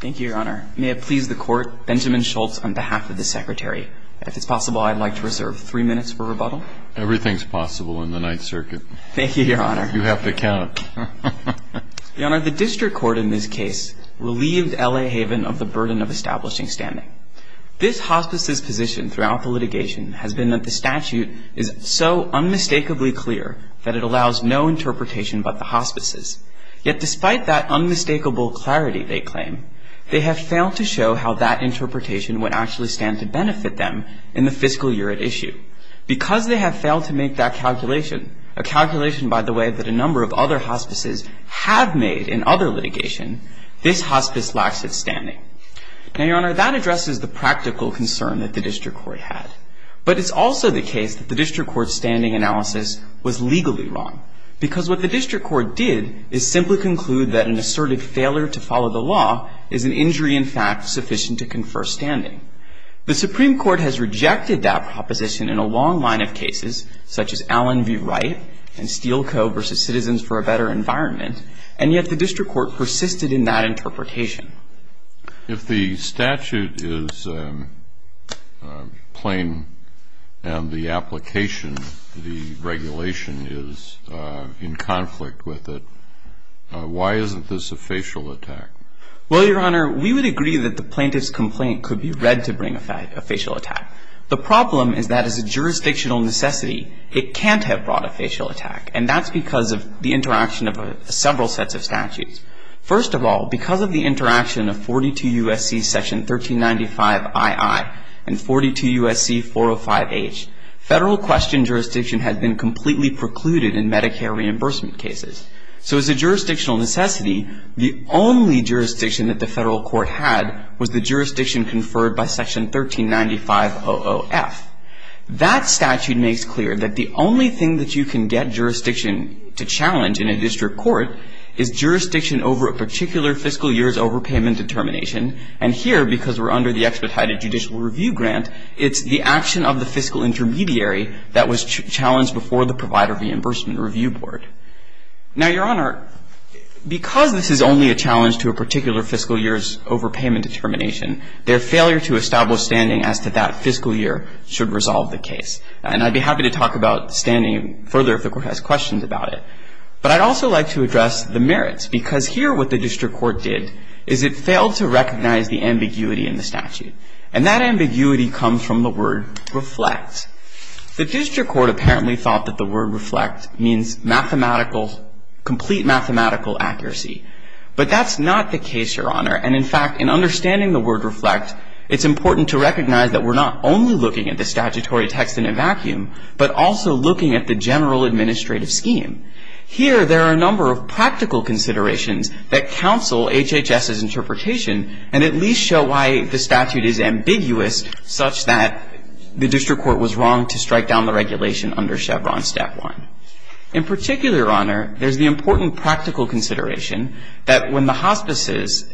Thank you, Your Honor. May it please the Court, Benjamin Schultz on behalf of the Secretary. If it's possible, I'd like to reserve three minutes for rebuttal. Everything's possible in the Ninth Circuit. Thank you, Your Honor. You have to count. Your Honor, the District Court in this case relieved L.A. Haven of the burden of establishing standing. This hospice's position throughout the litigation has been that the statute is so unmistakably clear that it allows no interpretation but the hospice's. Yet despite that unmistakable clarity, they claim, they have failed to show how that interpretation would actually stand to benefit them in the fiscal year at issue. Because they have failed to make that calculation, a calculation, by the way, that a number of other hospices have made in other litigation, this hospice lacks its standing. Now, Your Honor, that addresses the practical concern that the District Court had. But it's also the case that the District Court's standing analysis was legally wrong because what the District Court did is simply conclude that an assertive failure to follow the law is an injury, in fact, sufficient to confer standing. The Supreme Court has rejected that proposition in a long line of cases, such as Allen v. Wright and Steele Co. v. Citizens for a Better Environment, and yet the District Court persisted in that interpretation. If the statute is plain and the application, the regulation, is in conflict with it, why isn't this a facial attack? Well, Your Honor, we would agree that the plaintiff's complaint could be read to bring a facial attack. The problem is that as a jurisdictional necessity, it can't have brought a facial attack, and that's because of the interaction of several sets of statutes. First of all, because of the interaction of 42 U.S.C. section 1395ii and 42 U.S.C. 405h, federal question jurisdiction had been completely precluded in Medicare reimbursement cases. So as a jurisdictional necessity, the only jurisdiction that the federal court had was the jurisdiction conferred by section 139500f. That statute makes clear that the only thing that you can get jurisdiction to challenge in a district court is jurisdiction over a particular fiscal year's overpayment determination. And here, because we're under the expedited judicial review grant, it's the action of the fiscal intermediary that was challenged before the Provider Reimbursement Review Board. Now, Your Honor, because this is only a challenge to a particular fiscal year's overpayment determination, their failure to establish standing as to that fiscal year should resolve the case. And I'd be happy to talk about standing further if the Court has questions about it. But I'd also like to address the merits, because here what the district court did is it failed to recognize the ambiguity in the statute. And that ambiguity comes from the word reflect. The district court apparently thought that the word reflect means mathematical, complete mathematical accuracy. But that's not the case, Your Honor. And in fact, in understanding the word reflect, it's important to recognize that we're not only looking at the statutory text in a vacuum, but also looking at the general administrative scheme. Here, there are a number of practical considerations that counsel HHS's interpretation and at least show why the statute is ambiguous such that the district court was wrong to strike down the regulation under Chevron Step 1. In particular, Your Honor, there's the important practical consideration that when the hospices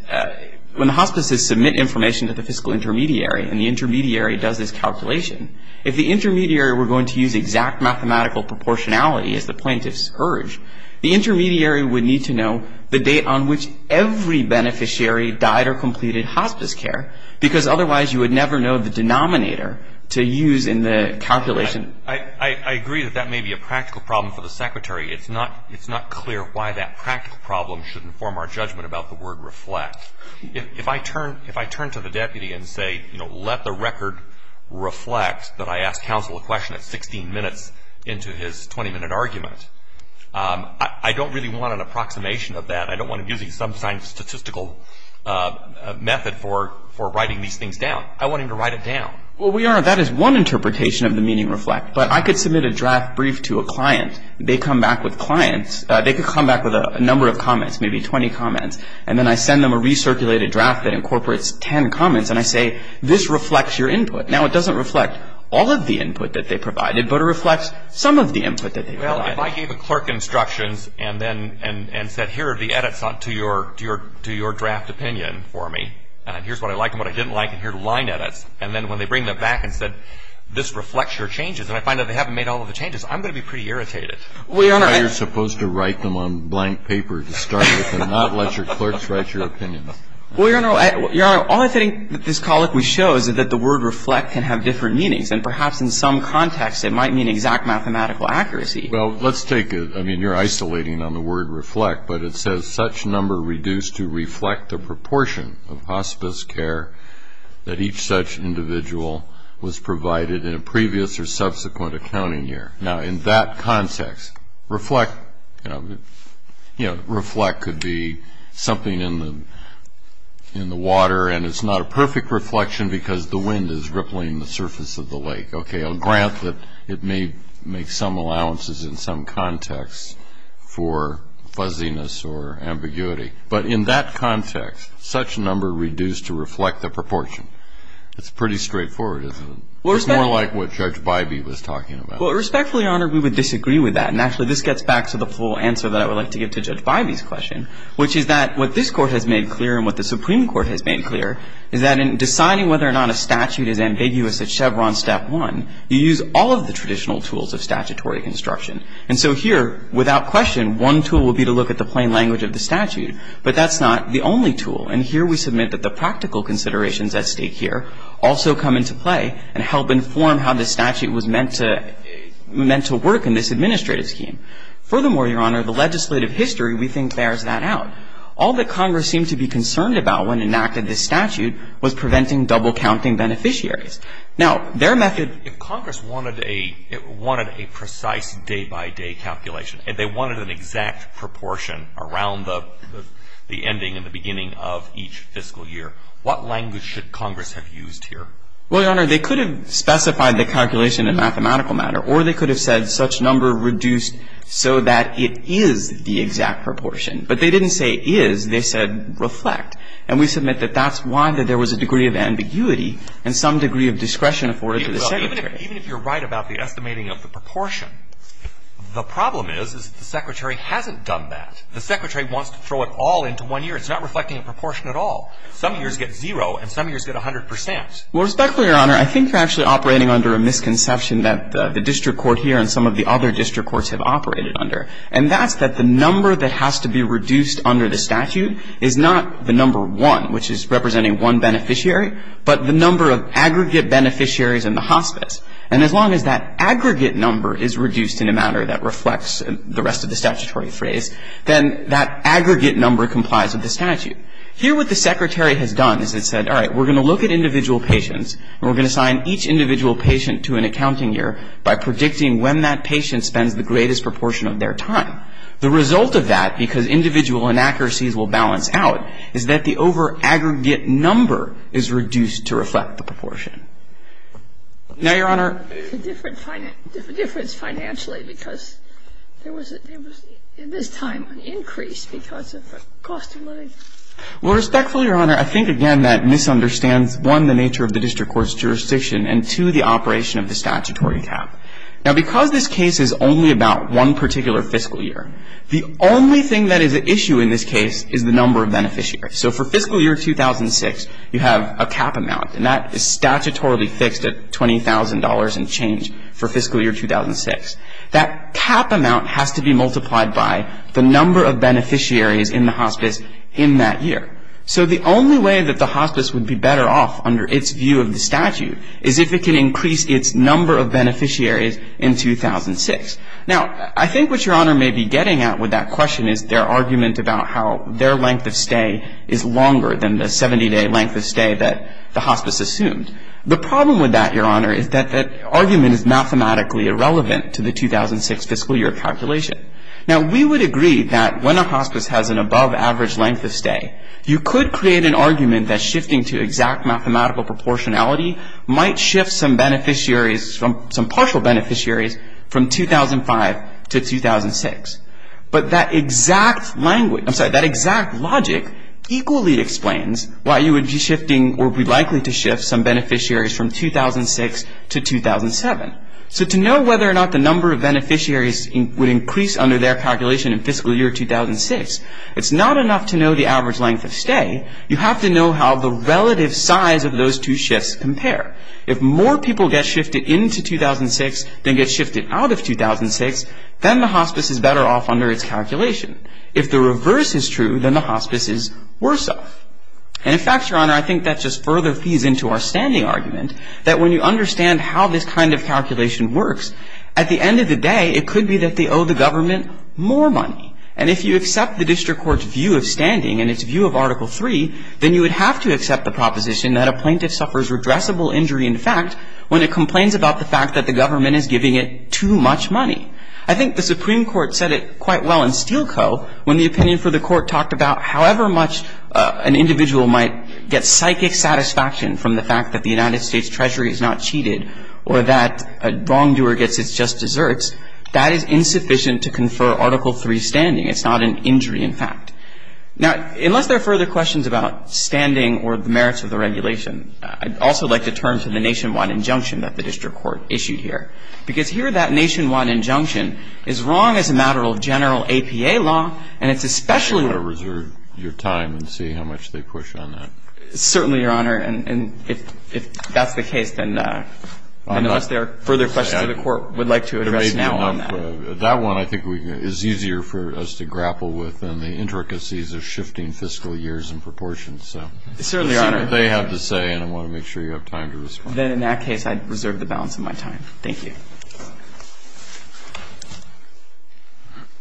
submit information to the fiscal intermediary and the intermediary does this calculation, if the intermediary were going to use exact mathematical proportionality as the plaintiffs urged, the intermediary would need to know the date on which every beneficiary died or completed hospice care, because otherwise you would never know the denominator to use in the calculation. I agree that that may be a practical problem for the Secretary. It's not clear why that practical problem should inform our judgment about the word reflect. If I turn to the deputy and say, you know, let the record reflect that I asked counsel a question at 16 minutes into his 20-minute argument, I don't really want an approximation of that. I don't want him using some kind of statistical method for writing these things down. I want him to write it down. Well, Your Honor, that is one interpretation of the meaning reflect. But I could submit a draft brief to a client. They come back with clients. They could come back with a number of comments, maybe 20 comments. And then I send them a recirculated draft that incorporates 10 comments, and I say, this reflects your input. Now, it doesn't reflect all of the input that they provided, but it reflects some of the input that they provided. Well, if I gave a clerk instructions and then said, here are the edits to your draft opinion for me, and here's what I like and what I didn't like, and here are the line edits, and then when they bring them back and said, this reflects your changes, and I find out they haven't made all of the changes, I'm going to be pretty irritated. Well, Your Honor, I am. You're supposed to write them on blank paper to start with and not let your clerks write your opinions. Well, Your Honor, all I think that this colloquy shows is that the word reflect can have different meanings, and perhaps in some contexts it might mean exact mathematical accuracy. Well, let's take it. I mean, you're isolating on the word reflect, but it says such number reduced to reflect the proportion of hospice care that each such individual was provided in a previous or subsequent accounting year. Now, in that context, reflect could be something in the water, and it's not a perfect reflection because the wind is rippling the surface of the lake. Okay, I'll grant that it may make some allowances in some contexts for fuzziness or ambiguity. But in that context, such number reduced to reflect the proportion, it's pretty straightforward, isn't it? It's more like what Judge Bybee was talking about. Well, respectfully, Your Honor, we would disagree with that, and actually this gets back to the full answer that I would like to give to Judge Bybee's question, which is that what this Court has made clear and what the Supreme Court has made clear is that in deciding whether or not a statute is ambiguous at Chevron Step 1, you use all of the traditional tools of statutory construction. And so here, without question, one tool would be to look at the plain language of the statute, but that's not the only tool. And here we submit that the practical considerations at stake here also come into play and help inform how the statute was meant to work in this administrative scheme. Furthermore, Your Honor, the legislative history, we think, bears that out. All that Congress seemed to be concerned about when it enacted this statute was preventing double-counting beneficiaries. Now, their method — If Congress wanted a precise day-by-day calculation, if they wanted an exact proportion around the ending and the beginning of each fiscal year, what language should Congress have used here? Well, Your Honor, they could have specified the calculation in a mathematical matter, or they could have said such number reduced so that it is the exact proportion. But they didn't say is. They said reflect. And we submit that that's why there was a degree of ambiguity and some degree of discretion afforded to the Secretary. Even if you're right about the estimating of the proportion, the problem is that the Secretary hasn't done that. The Secretary wants to throw it all into one year. It's not reflecting a proportion at all. Some years get zero and some years get 100 percent. Well, respectfully, Your Honor, I think you're actually operating under a misconception that the district court here and some of the other district courts have operated under. And that's that the number that has to be reduced under the statute is not the number one, which is representing one beneficiary, but the number of aggregate beneficiaries in the hospice. And as long as that aggregate number is reduced in a manner that reflects the rest of the statutory phrase, then that aggregate number complies with the statute. Here what the Secretary has done is it said, all right, we're going to look at individual patients, and we're going to assign each individual patient to an accounting year by predicting when that patient spends the greatest proportion of their time. The result of that, because individual inaccuracies will balance out, is that the over-aggregate number is reduced to reflect the proportion. Now, Your Honor. Well, respectfully, Your Honor, I think, again, that misunderstands, one, the nature of the district court's jurisdiction, and, two, the operation of the statutory cap. Now, because this case is only about one particular fiscal year, the only thing that is at issue in this case is the number of beneficiaries. So for fiscal year 2006, you have a cap amount, and that is the number of beneficiaries. That cap amount has to be multiplied by the number of beneficiaries in the hospice in that year. So the only way that the hospice would be better off under its view of the statute is if it can increase its number of beneficiaries in 2006. Now, I think what Your Honor may be getting at with that question is their argument about how their length of stay is longer than the 70-day length of stay that the hospice assumed. The problem with that, Your Honor, is that that argument is mathematically irrelevant to the 2006 fiscal year calculation. Now, we would agree that when a hospice has an above-average length of stay, you could create an argument that shifting to exact mathematical proportionality might shift some beneficiaries, some partial beneficiaries, from 2005 to 2006. But that exact logic equally explains why you would be shifting or be likely to shift some beneficiaries from 2006 to 2007. So to know whether or not the number of beneficiaries would increase under their calculation in fiscal year 2006, it's not enough to know the average length of stay. You have to know how the relative size of those two shifts compare. If more people get shifted into 2006 than get shifted out of 2006, then the hospice is better off under its calculation. If the reverse is true, then the hospice is worse off. And, in fact, Your Honor, I think that just further feeds into our standing argument that when you understand how this kind of calculation works, at the end of the day it could be that they owe the government more money. And if you accept the district court's view of standing and its view of Article 3, then you would have to accept the proposition that a plaintiff suffers redressable injury in fact when it complains about the fact that the government is giving it too much money. I think the Supreme Court said it quite well in Steele Co. when the opinion for the court talked about however much an individual might get psychic satisfaction from the fact that the United States Treasury has not cheated or that a wrongdoer gets its just desserts, that is insufficient to confer Article 3 standing. It's not an injury in fact. Now, unless there are further questions about standing or the merits of the regulation, I'd also like to turn to the nationwide injunction that the district court issued here. Because here that nationwide injunction is wrong as a matter of general APA law and it's especially wrong. I think you ought to reserve your time and see how much they push on that. Certainly, Your Honor. And if that's the case, then unless there are further questions, the court would like to address now on that. That one I think is easier for us to grapple with and the intricacies are shifting fiscal years in proportion, so. Certainly, Your Honor. That's what they have to say and I want to make sure you have time to respond. Then in that case, I'd reserve the balance of my time. Thank you.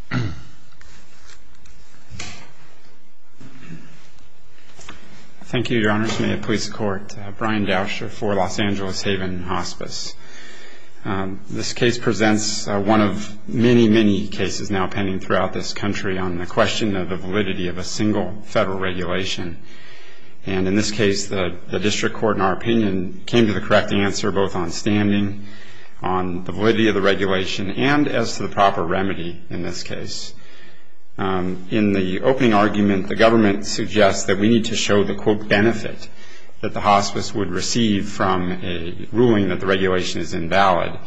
Thank you. Thank you, Your Honors. May it please the Court. Brian Dauscher for Los Angeles Haven Hospice. This case presents one of many, many cases now pending throughout this country on the question of the validity of a single federal regulation. And in this case, the district court, in our opinion, came to the correct answer, both on standing, on the validity of the regulation, and as to the proper remedy in this case. In the opening argument, the government suggests that we need to show the, quote, benefit that the hospice would receive from a ruling that the regulation is invalid.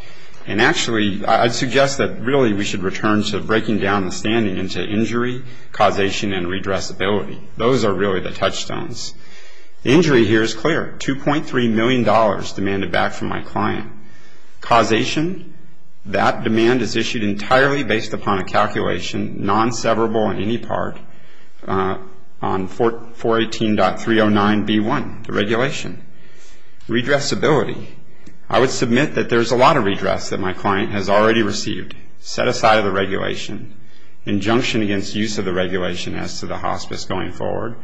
And actually, I'd suggest that really we should return to breaking down the standing into injury, causation, and redressability. Those are really the touchstones. The injury here is clear. $2.3 million demanded back from my client. Causation, that demand is issued entirely based upon a calculation, non-severable in any part, on 418.309B1, the regulation. Redressability, I would submit that there's a lot of redress that my client has already received, set aside of the regulation, injunction against use of the regulation as to the hospice going forward,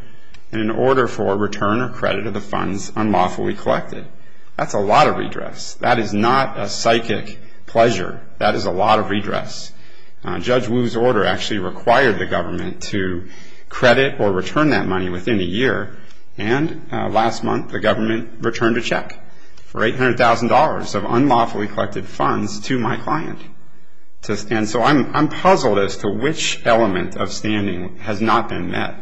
in order for return or credit of the funds unlawfully collected. That's a lot of redress. That is not a psychic pleasure. That is a lot of redress. Judge Wu's order actually required the government to credit or return that money within a year, and last month the government returned a check for $800,000 of unlawfully collected funds to my client. And so I'm puzzled as to which element of standing has not been met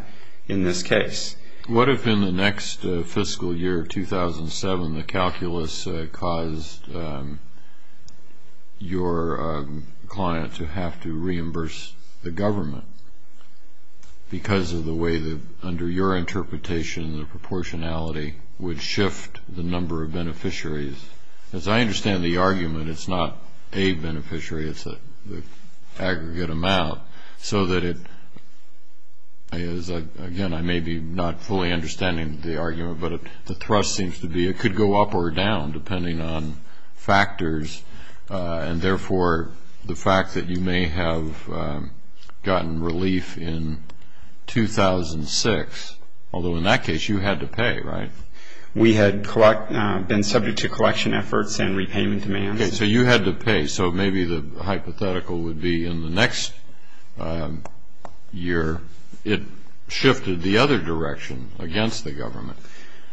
in this case. What if in the next fiscal year, 2007, the calculus caused your client to have to reimburse the government because of the way that, under your interpretation, the proportionality would shift the number of beneficiaries? As I understand the argument, it's not a beneficiary, it's the aggregate amount, so that it is, again, I may be not fully understanding the argument, but the thrust seems to be it could go up or down depending on factors, and therefore the fact that you may have gotten relief in 2006, although in that case you had to pay, right? We had been subject to collection efforts and repayment demands. Okay, so you had to pay. So maybe the hypothetical would be in the next year it shifted the other direction against the government.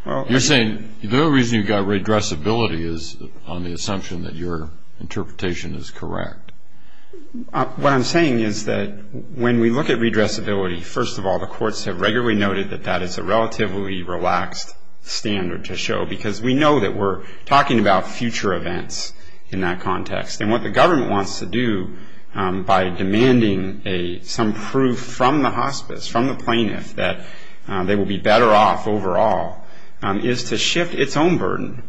You're saying the only reason you got redressability is on the assumption that your interpretation is correct. What I'm saying is that when we look at redressability, first of all, the courts have regularly noted that that is a relatively relaxed standard to show because we know that we're talking about future events in that context. And what the government wants to do by demanding some proof from the hospice, from the plaintiff, that they will be better off overall is to shift its own burden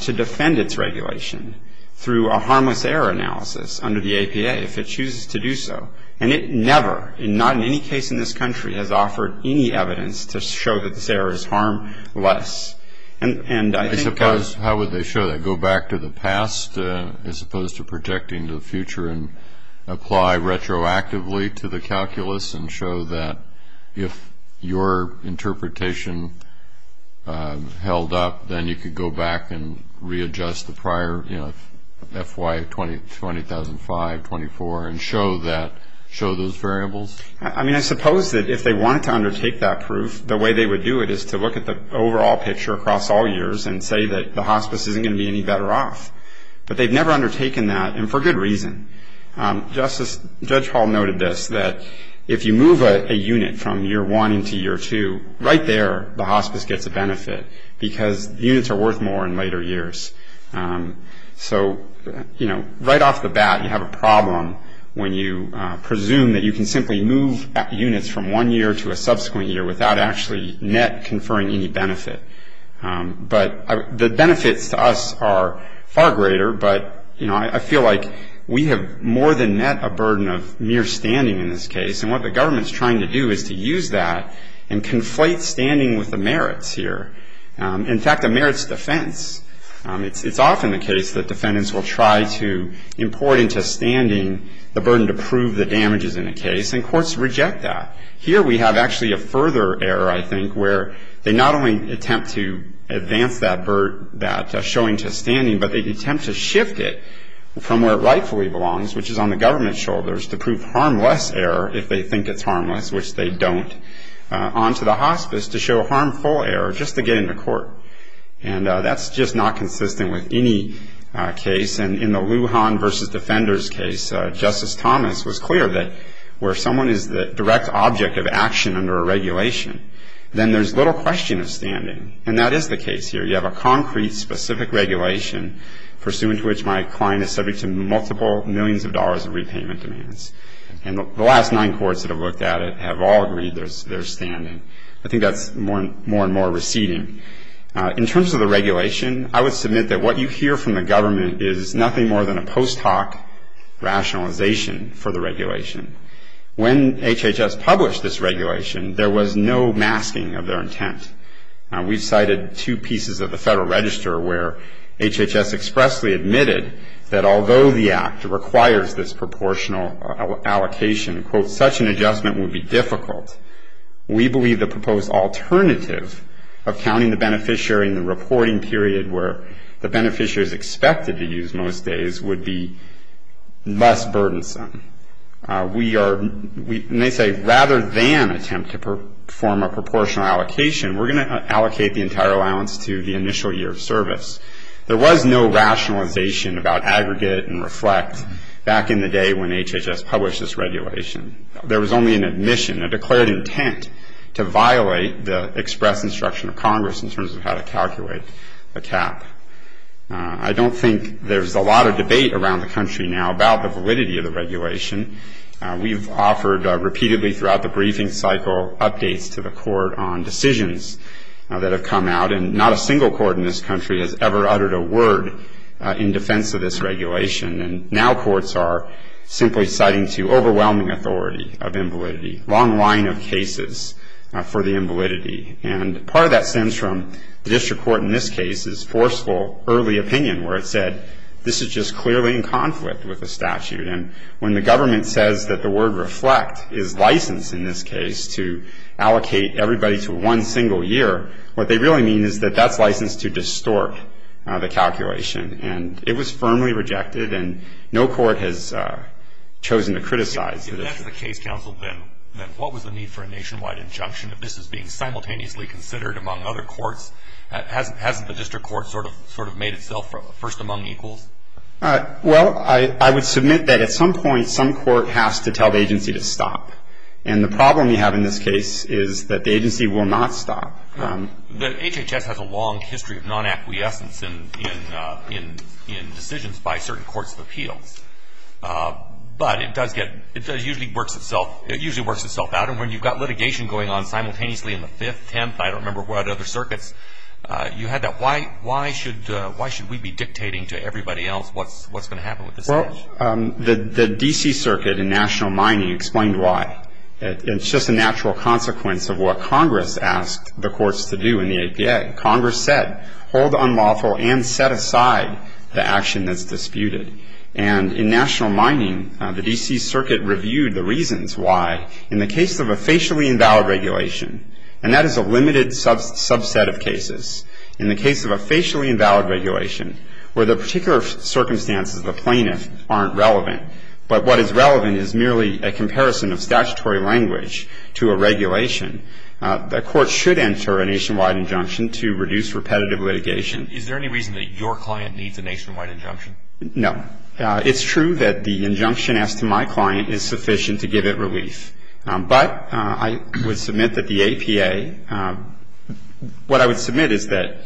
to defend its regulation through a harmless error analysis under the APA if it chooses to do so. And it never, not in any case in this country, has offered any evidence to show that this error is harmless. I suppose how would they show that, go back to the past as opposed to projecting to the future and apply retroactively to the calculus and show that if your interpretation held up, then you could go back and readjust the prior, you know, FY200005-20024 and show that, show those variables? I mean, I suppose that if they wanted to undertake that proof, the way they would do it is to look at the overall picture across all years and say that the hospice isn't going to be any better off. But they've never undertaken that, and for good reason. Judge Hall noted this, that if you move a unit from year one into year two, right there the hospice gets a benefit because units are worth more in later years. So, you know, right off the bat you have a problem when you presume that you can simply move units from one year to a subsequent year without actually net conferring any benefit. But the benefits to us are far greater, but, you know, I feel like we have more than met a burden of mere standing in this case, and what the government's trying to do is to use that and conflate standing with the merits here. In fact, a merits defense, it's often the case that defendants will try to import into standing the burden to prove the damages in a case, and courts reject that. Here we have actually a further error, I think, where they not only attempt to advance that showing to standing, but they attempt to shift it from where it rightfully belongs, which is on the government's shoulders, to prove harmless error if they think it's harmless, which they don't, onto the hospice to show harmful error just to get into court. And that's just not consistent with any case, and in the Lujan v. Defenders case, Justice Thomas was clear that where someone is the direct object of action under a regulation, then there's little question of standing, and that is the case here. You have a concrete, specific regulation pursuant to which my client is subject to multiple millions of dollars of repayment demands, and the last nine courts that have looked at it have all agreed there's standing. I think that's more and more receding. In terms of the regulation, I would submit that what you hear from the government is nothing more than a post hoc rationalization for the regulation. When HHS published this regulation, there was no masking of their intent. We've cited two pieces of the Federal Register where HHS expressly admitted that although the act requires this proportional allocation, such an adjustment would be difficult. We believe the proposed alternative of counting the beneficiary in the reporting period where the beneficiary is expected to use most days would be less burdensome. We are, and they say rather than attempt to perform a proportional allocation, we're going to allocate the entire allowance to the initial year of service. There was no rationalization about aggregate and reflect back in the day when HHS published this regulation. There was only an admission, a declared intent to violate the express instruction of Congress in terms of how to calculate the cap. I don't think there's a lot of debate around the country now about the validity of the regulation. We've offered repeatedly throughout the briefing cycle updates to the court on decisions that have come out, and not a single court in this country has ever uttered a word in defense of this regulation. And now courts are simply citing to overwhelming authority of invalidity, long line of cases for the invalidity. And part of that stems from the district court in this case's forceful early opinion where it said this is just clearly in conflict with the statute. And when the government says that the word reflect is licensed in this case to allocate everybody to one single year, what they really mean is that that's licensed to distort the calculation. And it was firmly rejected, and no court has chosen to criticize it. If that's the case, counsel, then what was the need for a nationwide injunction if this is being simultaneously considered among other courts? Hasn't the district court sort of made itself first among equals? Well, I would submit that at some point some court has to tell the agency to stop. And the problem we have in this case is that the agency will not stop. HHS has a long history of non-acquiescence in decisions by certain courts of appeals. But it usually works itself out. And when you've got litigation going on simultaneously in the Fifth, Tenth, I don't remember what other circuits, you had that. Why should we be dictating to everybody else what's going to happen with the statute? Well, the D.C. Circuit in National Mining explained why. It's just a natural consequence of what Congress asked the courts to do in the APA. Congress said hold unlawful and set aside the action that's disputed. And in National Mining, the D.C. Circuit reviewed the reasons why. In the case of a facially invalid regulation, and that is a limited subset of cases, in the case of a facially invalid regulation, where the particular circumstances of the plaintiff aren't relevant, but what is relevant is merely a comparison of statutory language to a regulation, the court should enter a nationwide injunction to reduce repetitive litigation. Is there any reason that your client needs a nationwide injunction? No. It's true that the injunction asked to my client is sufficient to give it relief. But I would submit that the APA, what I would submit is that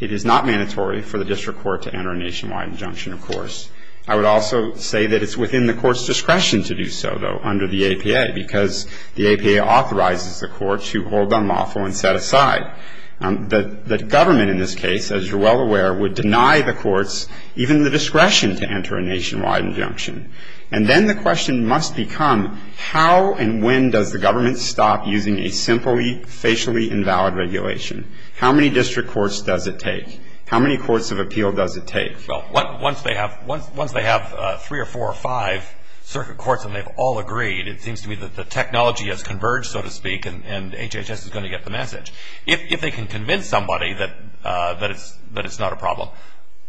it is not mandatory for the district court to enter a nationwide injunction, of course. I would also say that it's within the court's discretion to do so, though, under the APA, because the APA authorizes the court to hold unlawful and set aside. The government in this case, as you're well aware, would deny the courts even the discretion to enter a nationwide injunction. And then the question must become how and when does the government stop using a simply, facially invalid regulation? How many district courts does it take? How many courts of appeal does it take? Well, once they have three or four or five circuit courts and they've all agreed, it seems to me that the technology has converged, so to speak, and HHS is going to get the message. If they can convince somebody that it's not a problem,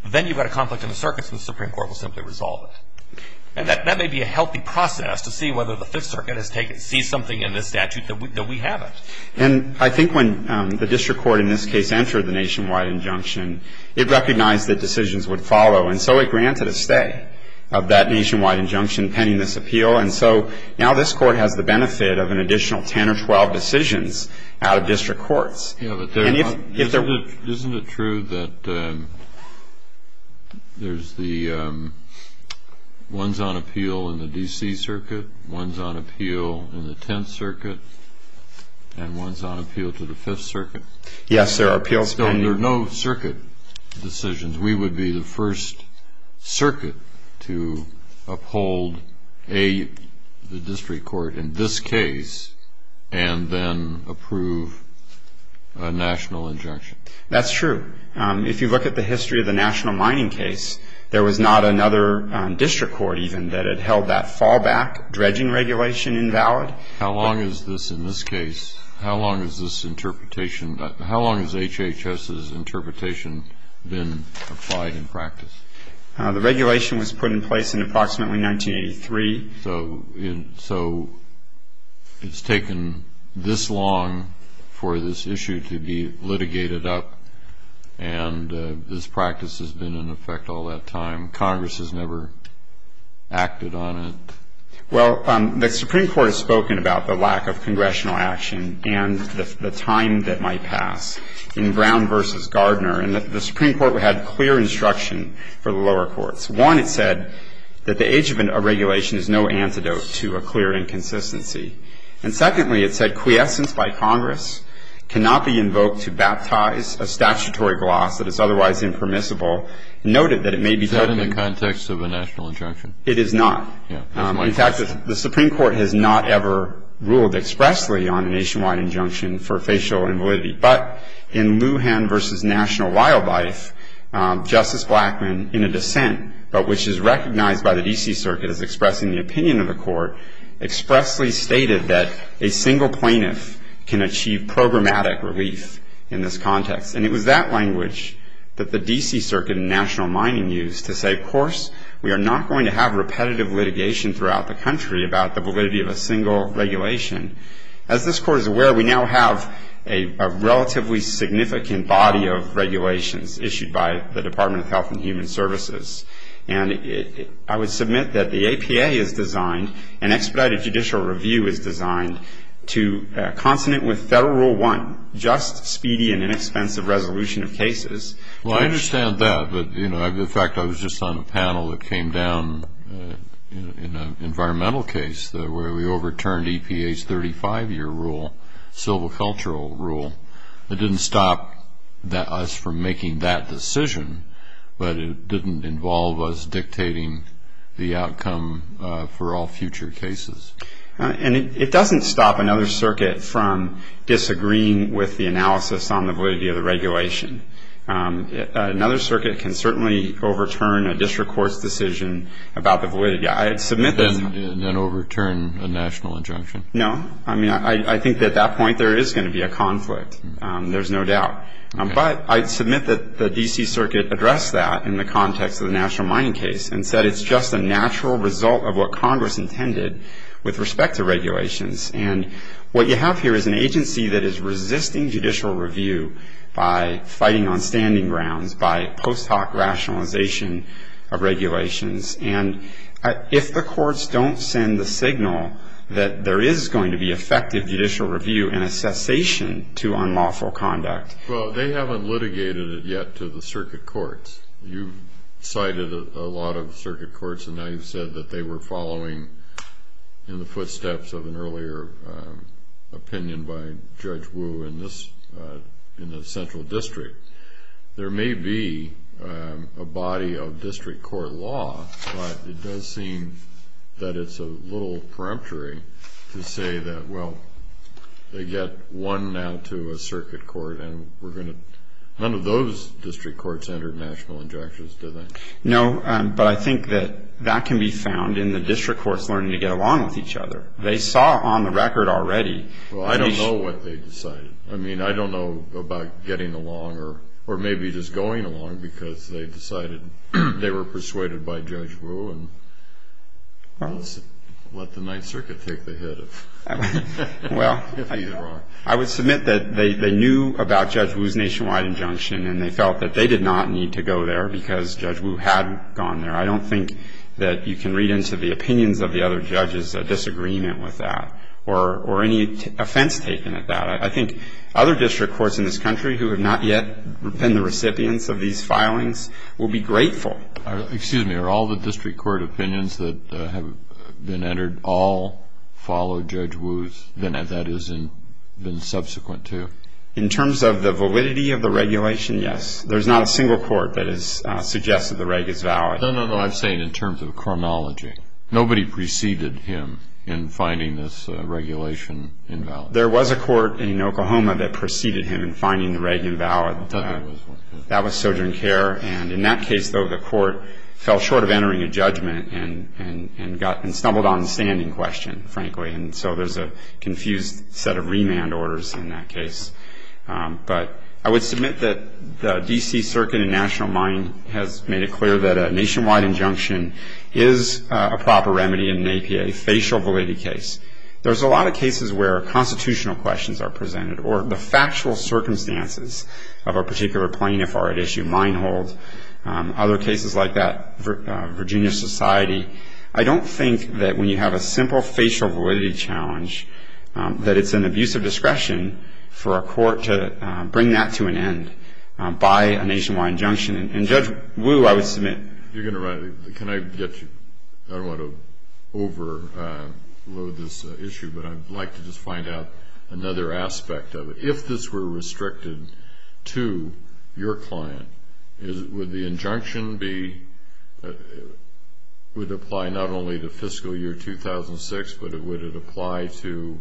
then you've got a conflict in the circuits and the Supreme Court will simply resolve it. And that may be a healthy process to see whether the Fifth Circuit sees something in this statute that we haven't. And I think when the district court in this case entered the nationwide injunction, it recognized that decisions would follow. And so it granted a stay of that nationwide injunction pending this appeal. And so now this court has the benefit of an additional 10 or 12 decisions out of district courts. Isn't it true that there's the ones on appeal in the D.C. Circuit, ones on appeal in the Tenth Circuit, and ones on appeal to the Fifth Circuit? Yes, there are appeals pending. And there are no circuit decisions. We would be the first circuit to uphold a district court in this case and then approve a national injunction. That's true. If you look at the history of the national mining case, there was not another district court even that had held that fallback dredging regulation invalid. How long is this in this case? How long is this interpretation? How long has HHS's interpretation been applied in practice? The regulation was put in place in approximately 1983. So it's taken this long for this issue to be litigated up, and this practice has been in effect all that time. Congress has never acted on it. Well, the Supreme Court has spoken about the lack of congressional action and the time that might pass in Brown v. Gardner. And the Supreme Court had clear instruction for the lower courts. One, it said that the age of a regulation is no antidote to a clear inconsistency. And secondly, it said quiescence by Congress cannot be invoked to baptize a statutory gloss that is otherwise impermissible and noted that it may be taken as a national injunction. Is that in the context of a national injunction? It is not. In fact, the Supreme Court has not ever ruled expressly on a nationwide injunction for facial invalidity. But in Lujan v. National Wildlife, Justice Blackmun, in a dissent, but which is recognized by the D.C. Circuit as expressing the opinion of the court, expressly stated that a single plaintiff can achieve programmatic relief in this context. And it was that language that the D.C. Circuit and national mining used to say, of course, we are not going to have repetitive litigation throughout the country about the validity of a single regulation. As this Court is aware, we now have a relatively significant body of regulations issued by the Department of Health and Human Services. And I would submit that the APA is designed, an expedited judicial review is designed, to consonant with Federal Rule 1, just, speedy, and inexpensive resolution of cases. Well, I understand that. But, you know, in fact, I was just on a panel that came down in an environmental case where we overturned EPA's 35-year rule, civil cultural rule. It didn't stop us from making that decision, but it didn't involve us dictating the outcome for all future cases. And it doesn't stop another circuit from disagreeing with the analysis on the validity of the regulation. Another circuit can certainly overturn a district court's decision about the validity. Then overturn a national injunction. No. I mean, I think at that point there is going to be a conflict. There's no doubt. But I'd submit that the D.C. Circuit addressed that in the context of the national mining case and said it's just a natural result of what Congress intended with respect to regulations. And what you have here is an agency that is resisting judicial review by fighting on standing grounds, by post hoc rationalization of regulations. And if the courts don't send the signal that there is going to be effective judicial review and a cessation to unlawful conduct. Well, they haven't litigated it yet to the circuit courts. You've cited a lot of circuit courts, and now you've said that they were following in the footsteps of an earlier opinion by Judge Wu in the central district. There may be a body of district court law, but it does seem that it's a little peremptory to say that, well, they get one now to a circuit court and none of those district courts entered national injunctions, did they? No, but I think that that can be found in the district courts learning to get along with each other. They saw on the record already. Well, I don't know what they decided. I mean, I don't know about getting along or maybe just going along because they decided they were persuaded by Judge Wu and let the Ninth Circuit take the hit if either are. Well, I would submit that they knew about Judge Wu's nationwide injunction and they felt that they did not need to go there because Judge Wu had gone there. I don't think that you can read into the opinions of the other judges a disagreement with that or any offense taken at that. I think other district courts in this country who have not yet been the recipients of these filings will be grateful. Excuse me. Are all the district court opinions that have been entered all followed Judge Wu's, that is, and been subsequent to? In terms of the validity of the regulation, yes. There's not a single court that has suggested the reg is valid. No, no, no. I'm saying in terms of chronology. Nobody preceded him in finding this regulation invalid. There was a court in Oklahoma that preceded him in finding the reg invalid. That was Sojourn Care. And in that case, though, the court fell short of entering a judgment and stumbled on the standing question, frankly. And so there's a confused set of remand orders in that case. But I would submit that the D.C. Circuit and National Mine has made it clear that a nationwide injunction is a proper remedy in an APA, facial validity case. There's a lot of cases where constitutional questions are presented or the factual circumstances of a particular plaintiff are at issue. Minehold, other cases like that, Virginia Society. I don't think that when you have a simple facial validity challenge that it's an abuse of discretion for a court to bring that to an end by a nationwide injunction. And Judge Wu, I would submit. You're going to run it. Can I get you? I don't want to overload this issue, but I'd like to just find out another aspect of it. If this were restricted to your client, would the injunction apply not only to fiscal year 2006, but would it apply to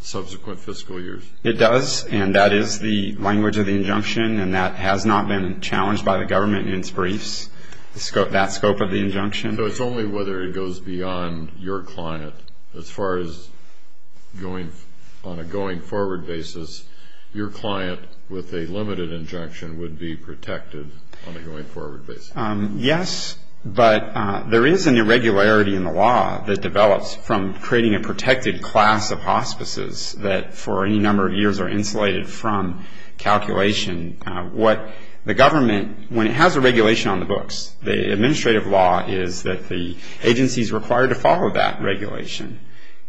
subsequent fiscal years? It does, and that is the language of the injunction, and that has not been challenged by the government in its briefs, that scope of the injunction. So it's only whether it goes beyond your client. As far as on a going-forward basis, your client with a limited injunction would be protected on a going-forward basis. Yes, but there is an irregularity in the law that develops from creating a protected class of hospices that for any number of years are insulated from calculation. What the government, when it has a regulation on the books, the administrative law is that the agency is required to follow that regulation.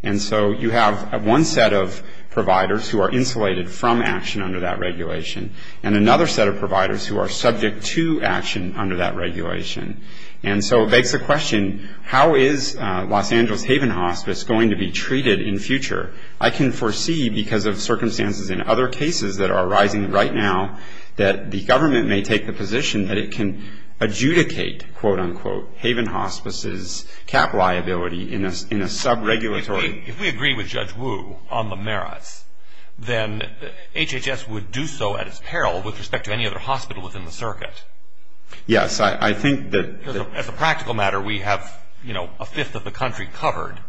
And so you have one set of providers who are insulated from action under that regulation and another set of providers who are subject to action under that regulation. And so it begs the question, how is Los Angeles Haven Hospice going to be treated in future? I can foresee, because of circumstances in other cases that are arising right now, that the government may take the position that it can adjudicate, quote, unquote, Haven Hospice's cap liability in a sub-regulatory. If we agree with Judge Wu on the merits, then HHS would do so at its peril with respect to any other hospital within the circuit. Yes, I think that... As a practical matter, we have, you know, a fifth of the country covered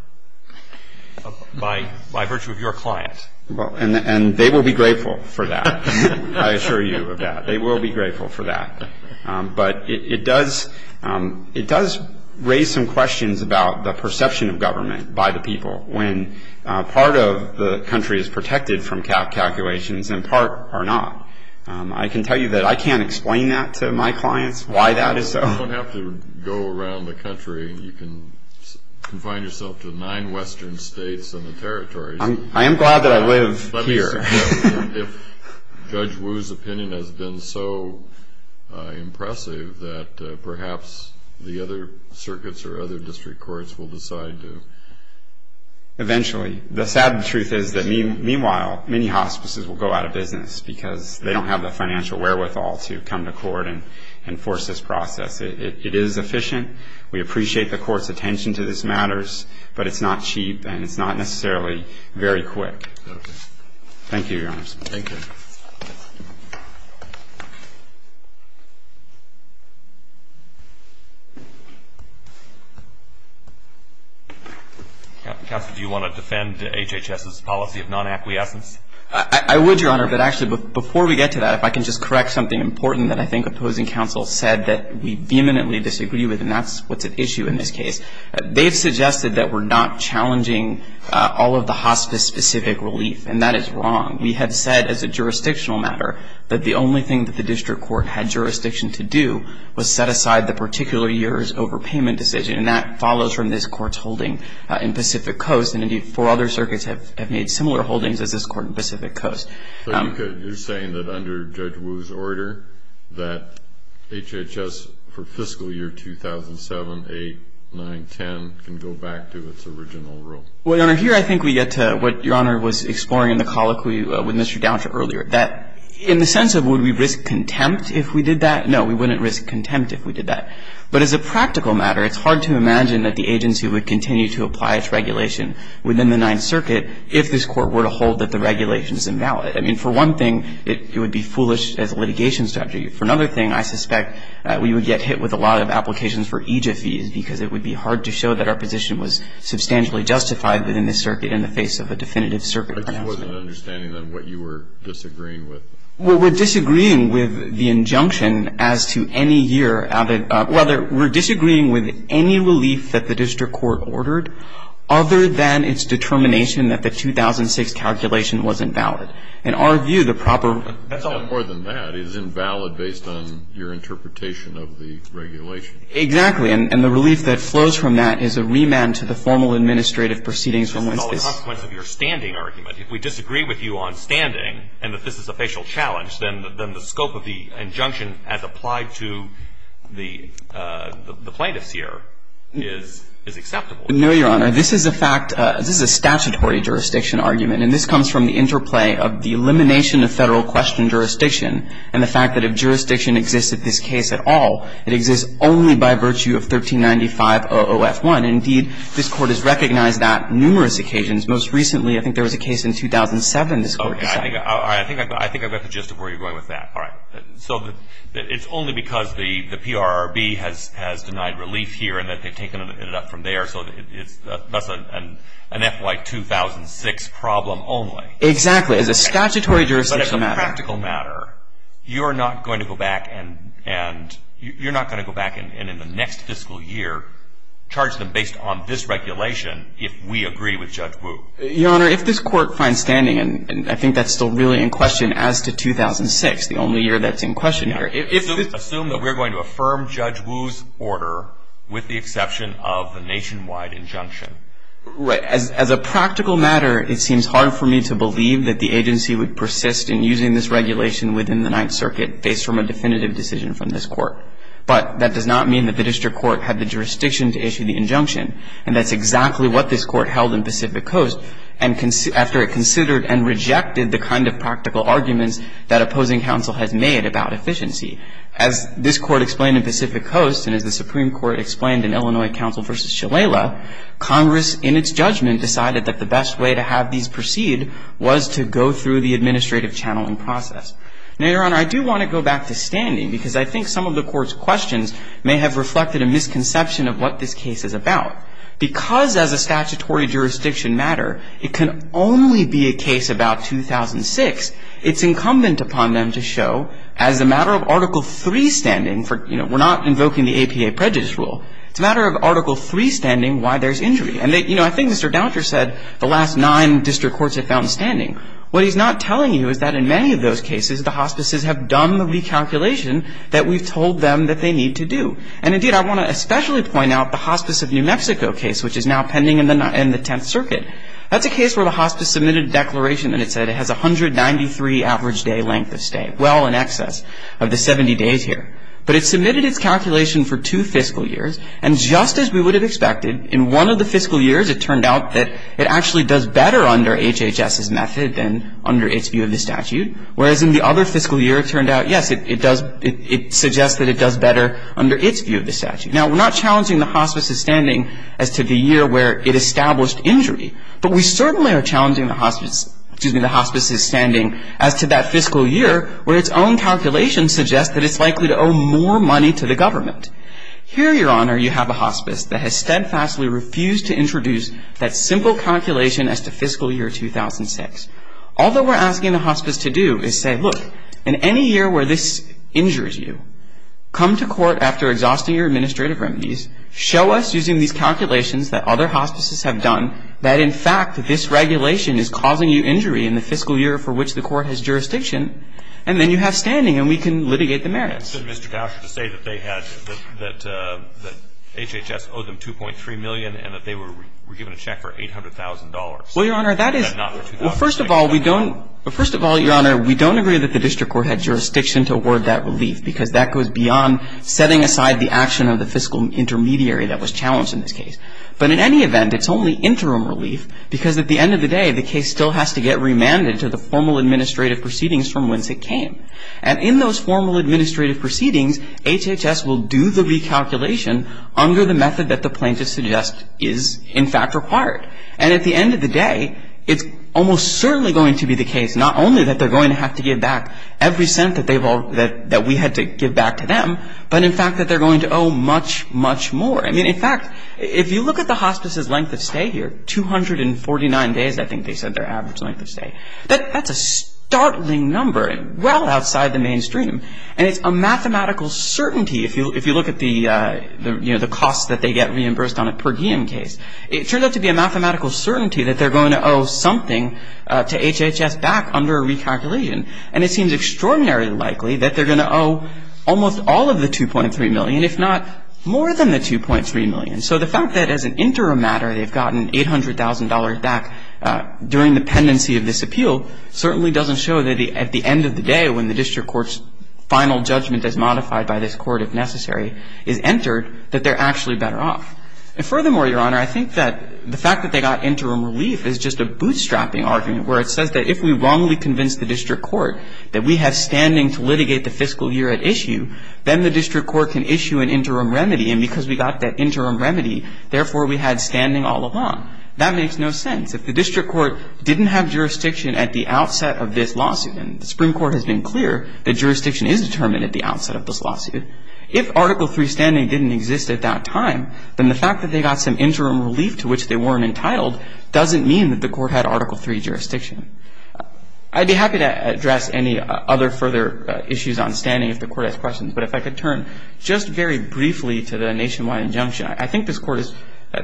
by virtue of your client. And they will be grateful for that. I assure you of that. They will be grateful for that. But it does raise some questions about the perception of government by the people when part of the country is protected from cap calculations and part are not. I can tell you that I can't explain that to my clients, why that is so. You don't have to go around the country. You can confine yourself to the nine western states and the territories. I am glad that I live here. Let me see if Judge Wu's opinion has been so impressive that perhaps the other circuits or other district courts will decide to... Eventually. The sad truth is that, meanwhile, many hospices will go out of business because they don't have the financial wherewithal to come to court and force this process. We appreciate the court's attention to these matters. But it's not cheap and it's not necessarily very quick. Okay. Thank you, Your Honor. Thank you. Counsel, do you want to defend HHS's policy of non-acquiescence? I would, Your Honor. But actually, before we get to that, if I can just correct something important that I think opposing counsel said that we vehemently disagree with, and that's what's at issue in this case. They've suggested that we're not challenging all of the hospice-specific relief, and that is wrong. We have said, as a jurisdictional matter, that the only thing that the district court had jurisdiction to do was set aside the particular year's overpayment decision, and that follows from this court's holding in Pacific Coast. And, indeed, four other circuits have made similar holdings as this court in Pacific Coast. So you're saying that under Judge Wu's order that HHS, for fiscal year 2007, 8, 9, 10, can go back to its original rule? Well, Your Honor, here I think we get to what Your Honor was exploring in the colloquy with Mr. Downs earlier, that in the sense of would we risk contempt if we did that? No, we wouldn't risk contempt if we did that. But as a practical matter, it's hard to imagine that the agency would continue to apply its regulation within the Ninth Circuit if this court were to hold that the regulation is invalid. I mean, for one thing, it would be foolish as a litigation statute. For another thing, I suspect we would get hit with a lot of applications for EJIA fees because it would be hard to show that our position was substantially justified within this circuit in the face of a definitive circuit announcement. But you wasn't understanding, then, what you were disagreeing with? Well, we're disagreeing with the injunction as to any year, whether we're disagreeing with any relief that the district court ordered, other than its determination that the 2006 calculation wasn't valid. In our view, the proper ---- That's all more than that. It's invalid based on your interpretation of the regulation. Exactly. And the relief that flows from that is a remand to the formal administrative proceedings from whence this ---- This is all a consequence of your standing argument. If we disagree with you on standing and that this is a facial challenge, then the scope of the injunction as applied to the plaintiffs here is acceptable. No, Your Honor. This is a fact. This is a statutory jurisdiction argument. And this comes from the interplay of the elimination of federal question jurisdiction and the fact that if jurisdiction exists at this case at all, it exists only by virtue of 1395.00F1. Indeed, this Court has recognized that numerous occasions. Most recently, I think there was a case in 2007 this Court decided. Okay. I think I've got the gist of where you're going with that. All right. So it's only because the PRRB has denied relief here and that they've taken it up from there, so that's an FY2006 problem only. Exactly. It's a statutory jurisdiction matter. But it's a practical matter. You're not going to go back and in the next fiscal year charge them based on this regulation if we agree with Judge Wu. Your Honor, if this Court finds standing, and I think that's still really in question as to 2006, the only year that's in question here. Assume that we're going to affirm Judge Wu's order with the exception of the nationwide injunction. Right. As a practical matter, it seems hard for me to believe that the agency would persist in using this regulation within the Ninth Circuit based from a definitive decision from this Court. But that does not mean that the District Court had the jurisdiction to issue the injunction, and that's exactly what this Court held in Pacific Coast after it considered and rejected the kind of practical arguments that opposing counsel had made about efficiency. As this Court explained in Pacific Coast and as the Supreme Court explained in Illinois Counsel v. Shalala, Congress in its judgment decided that the best way to have these proceed was to go through the administrative channeling process. Now, Your Honor, I do want to go back to standing because I think some of the Court's questions may have reflected a misconception of what this case is about. Because as a statutory jurisdiction matter, it can only be a case about 2006. It's incumbent upon them to show as a matter of Article III standing for, you know, we're not invoking the APA prejudice rule. It's a matter of Article III standing why there's injury. And, you know, I think Mr. Dauter said the last nine District Courts have found standing. What he's not telling you is that in many of those cases, the hospices have done the recalculation that we've told them that they need to do. And, indeed, I want to especially point out the Hospice of New Mexico case, which is now pending in the Tenth Circuit. That's a case where the hospice submitted a declaration that it said it has 193 average day length of stay, well in excess of the 70 days here. But it submitted its calculation for two fiscal years. And just as we would have expected, in one of the fiscal years, it turned out that it actually does better under HHS's method than under its view of the statute. Whereas in the other fiscal year, it turned out, yes, it does, it suggests that it does better under its view of the statute. Now, we're not challenging the hospice's standing as to the year where it established injury. But we certainly are challenging the hospice's, excuse me, the hospice's standing as to that fiscal year where its own calculation suggests that it's likely to owe more money to the government. Here, Your Honor, you have a hospice that has steadfastly refused to introduce that simple calculation as to fiscal year 2006. All that we're asking the hospice to do is say, look, in any year where this injures you, come to court after exhausting your administrative remedies, show us using these calculations that other hospices have done that, in fact, this regulation is causing you injury in the fiscal year for which the court has jurisdiction, and then you have standing and we can litigate the merits. It's been Mr. Gausher to say that they had, that HHS owed them $2.3 million and that they were given a check for $800,000. Well, Your Honor, that is Well, first of all, we don't, first of all, Your Honor, we don't agree that the district court had jurisdiction to award that relief because that goes beyond setting aside the action of the fiscal intermediary that was challenged in this case. But in any event, it's only interim relief because at the end of the day, the case still has to get remanded to the formal administrative proceedings from whence it came. And in those formal administrative proceedings, HHS will do the recalculation under the method that the plaintiff suggests is, in fact, required. And at the end of the day, it's almost certainly going to be the case, not only that they're going to have to give back every cent that they've all, that we had to give back to them, but in fact, that they're going to owe much, much more. I mean, in fact, if you look at the hospice's length of stay here, 249 days, I think they said their average length of stay. That's a startling number and well outside the mainstream. And it's a mathematical certainty if you look at the, you know, the costs that they get reimbursed on a per diem case. It turns out to be a mathematical certainty that they're going to owe something to HHS back under a recalculation. And it seems extraordinarily likely that they're going to owe almost all of the $2.3 million, if not more than the $2.3 million. So the fact that as an interim matter they've gotten $800,000 back during the pendency of this appeal certainly doesn't show that at the end of the day, when the district court's final judgment is modified by this court, if necessary, is entered, that they're actually better off. And furthermore, Your Honor, I think that the fact that they got interim relief is just a bootstrapping argument where it says that if we wrongly convince the district court that we have standing to litigate the fiscal year at issue, then the district court can issue an interim remedy. And because we got that interim remedy, therefore, we had standing all along. That makes no sense. If the district court didn't have jurisdiction at the outset of this lawsuit, and the Supreme Court has been clear that jurisdiction is determined at the outset of this lawsuit, if Article III standing didn't exist at that time, then the fact that they got some interim relief to which they weren't entitled doesn't mean that the court had Article III jurisdiction. I'd be happy to address any other further issues on standing if the court has questions. But if I could turn just very briefly to the nationwide injunction, I think this court has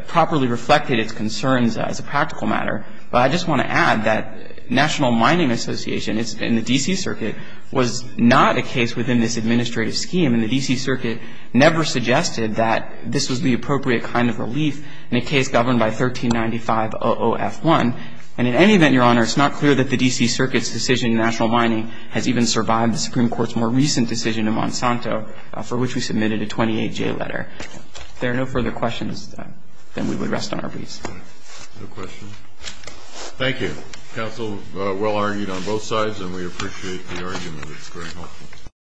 properly reflected its concerns as a practical matter. But I just want to add that National Mining Association in the D.C. Circuit was not a case within this administrative scheme. And the D.C. Circuit never suggested that this was the appropriate kind of relief in a case governed by 1395OOF1. And in any event, Your Honor, it's not clear that the D.C. Circuit's decision in National Mining has even survived the Supreme Court's more recent decision in Monsanto for which we submitted a 28-J letter. If there are no further questions, then we would rest on our knees. No questions. Thank you. Counsel, well-argued on both sides, and we appreciate the argument. It's very helpful.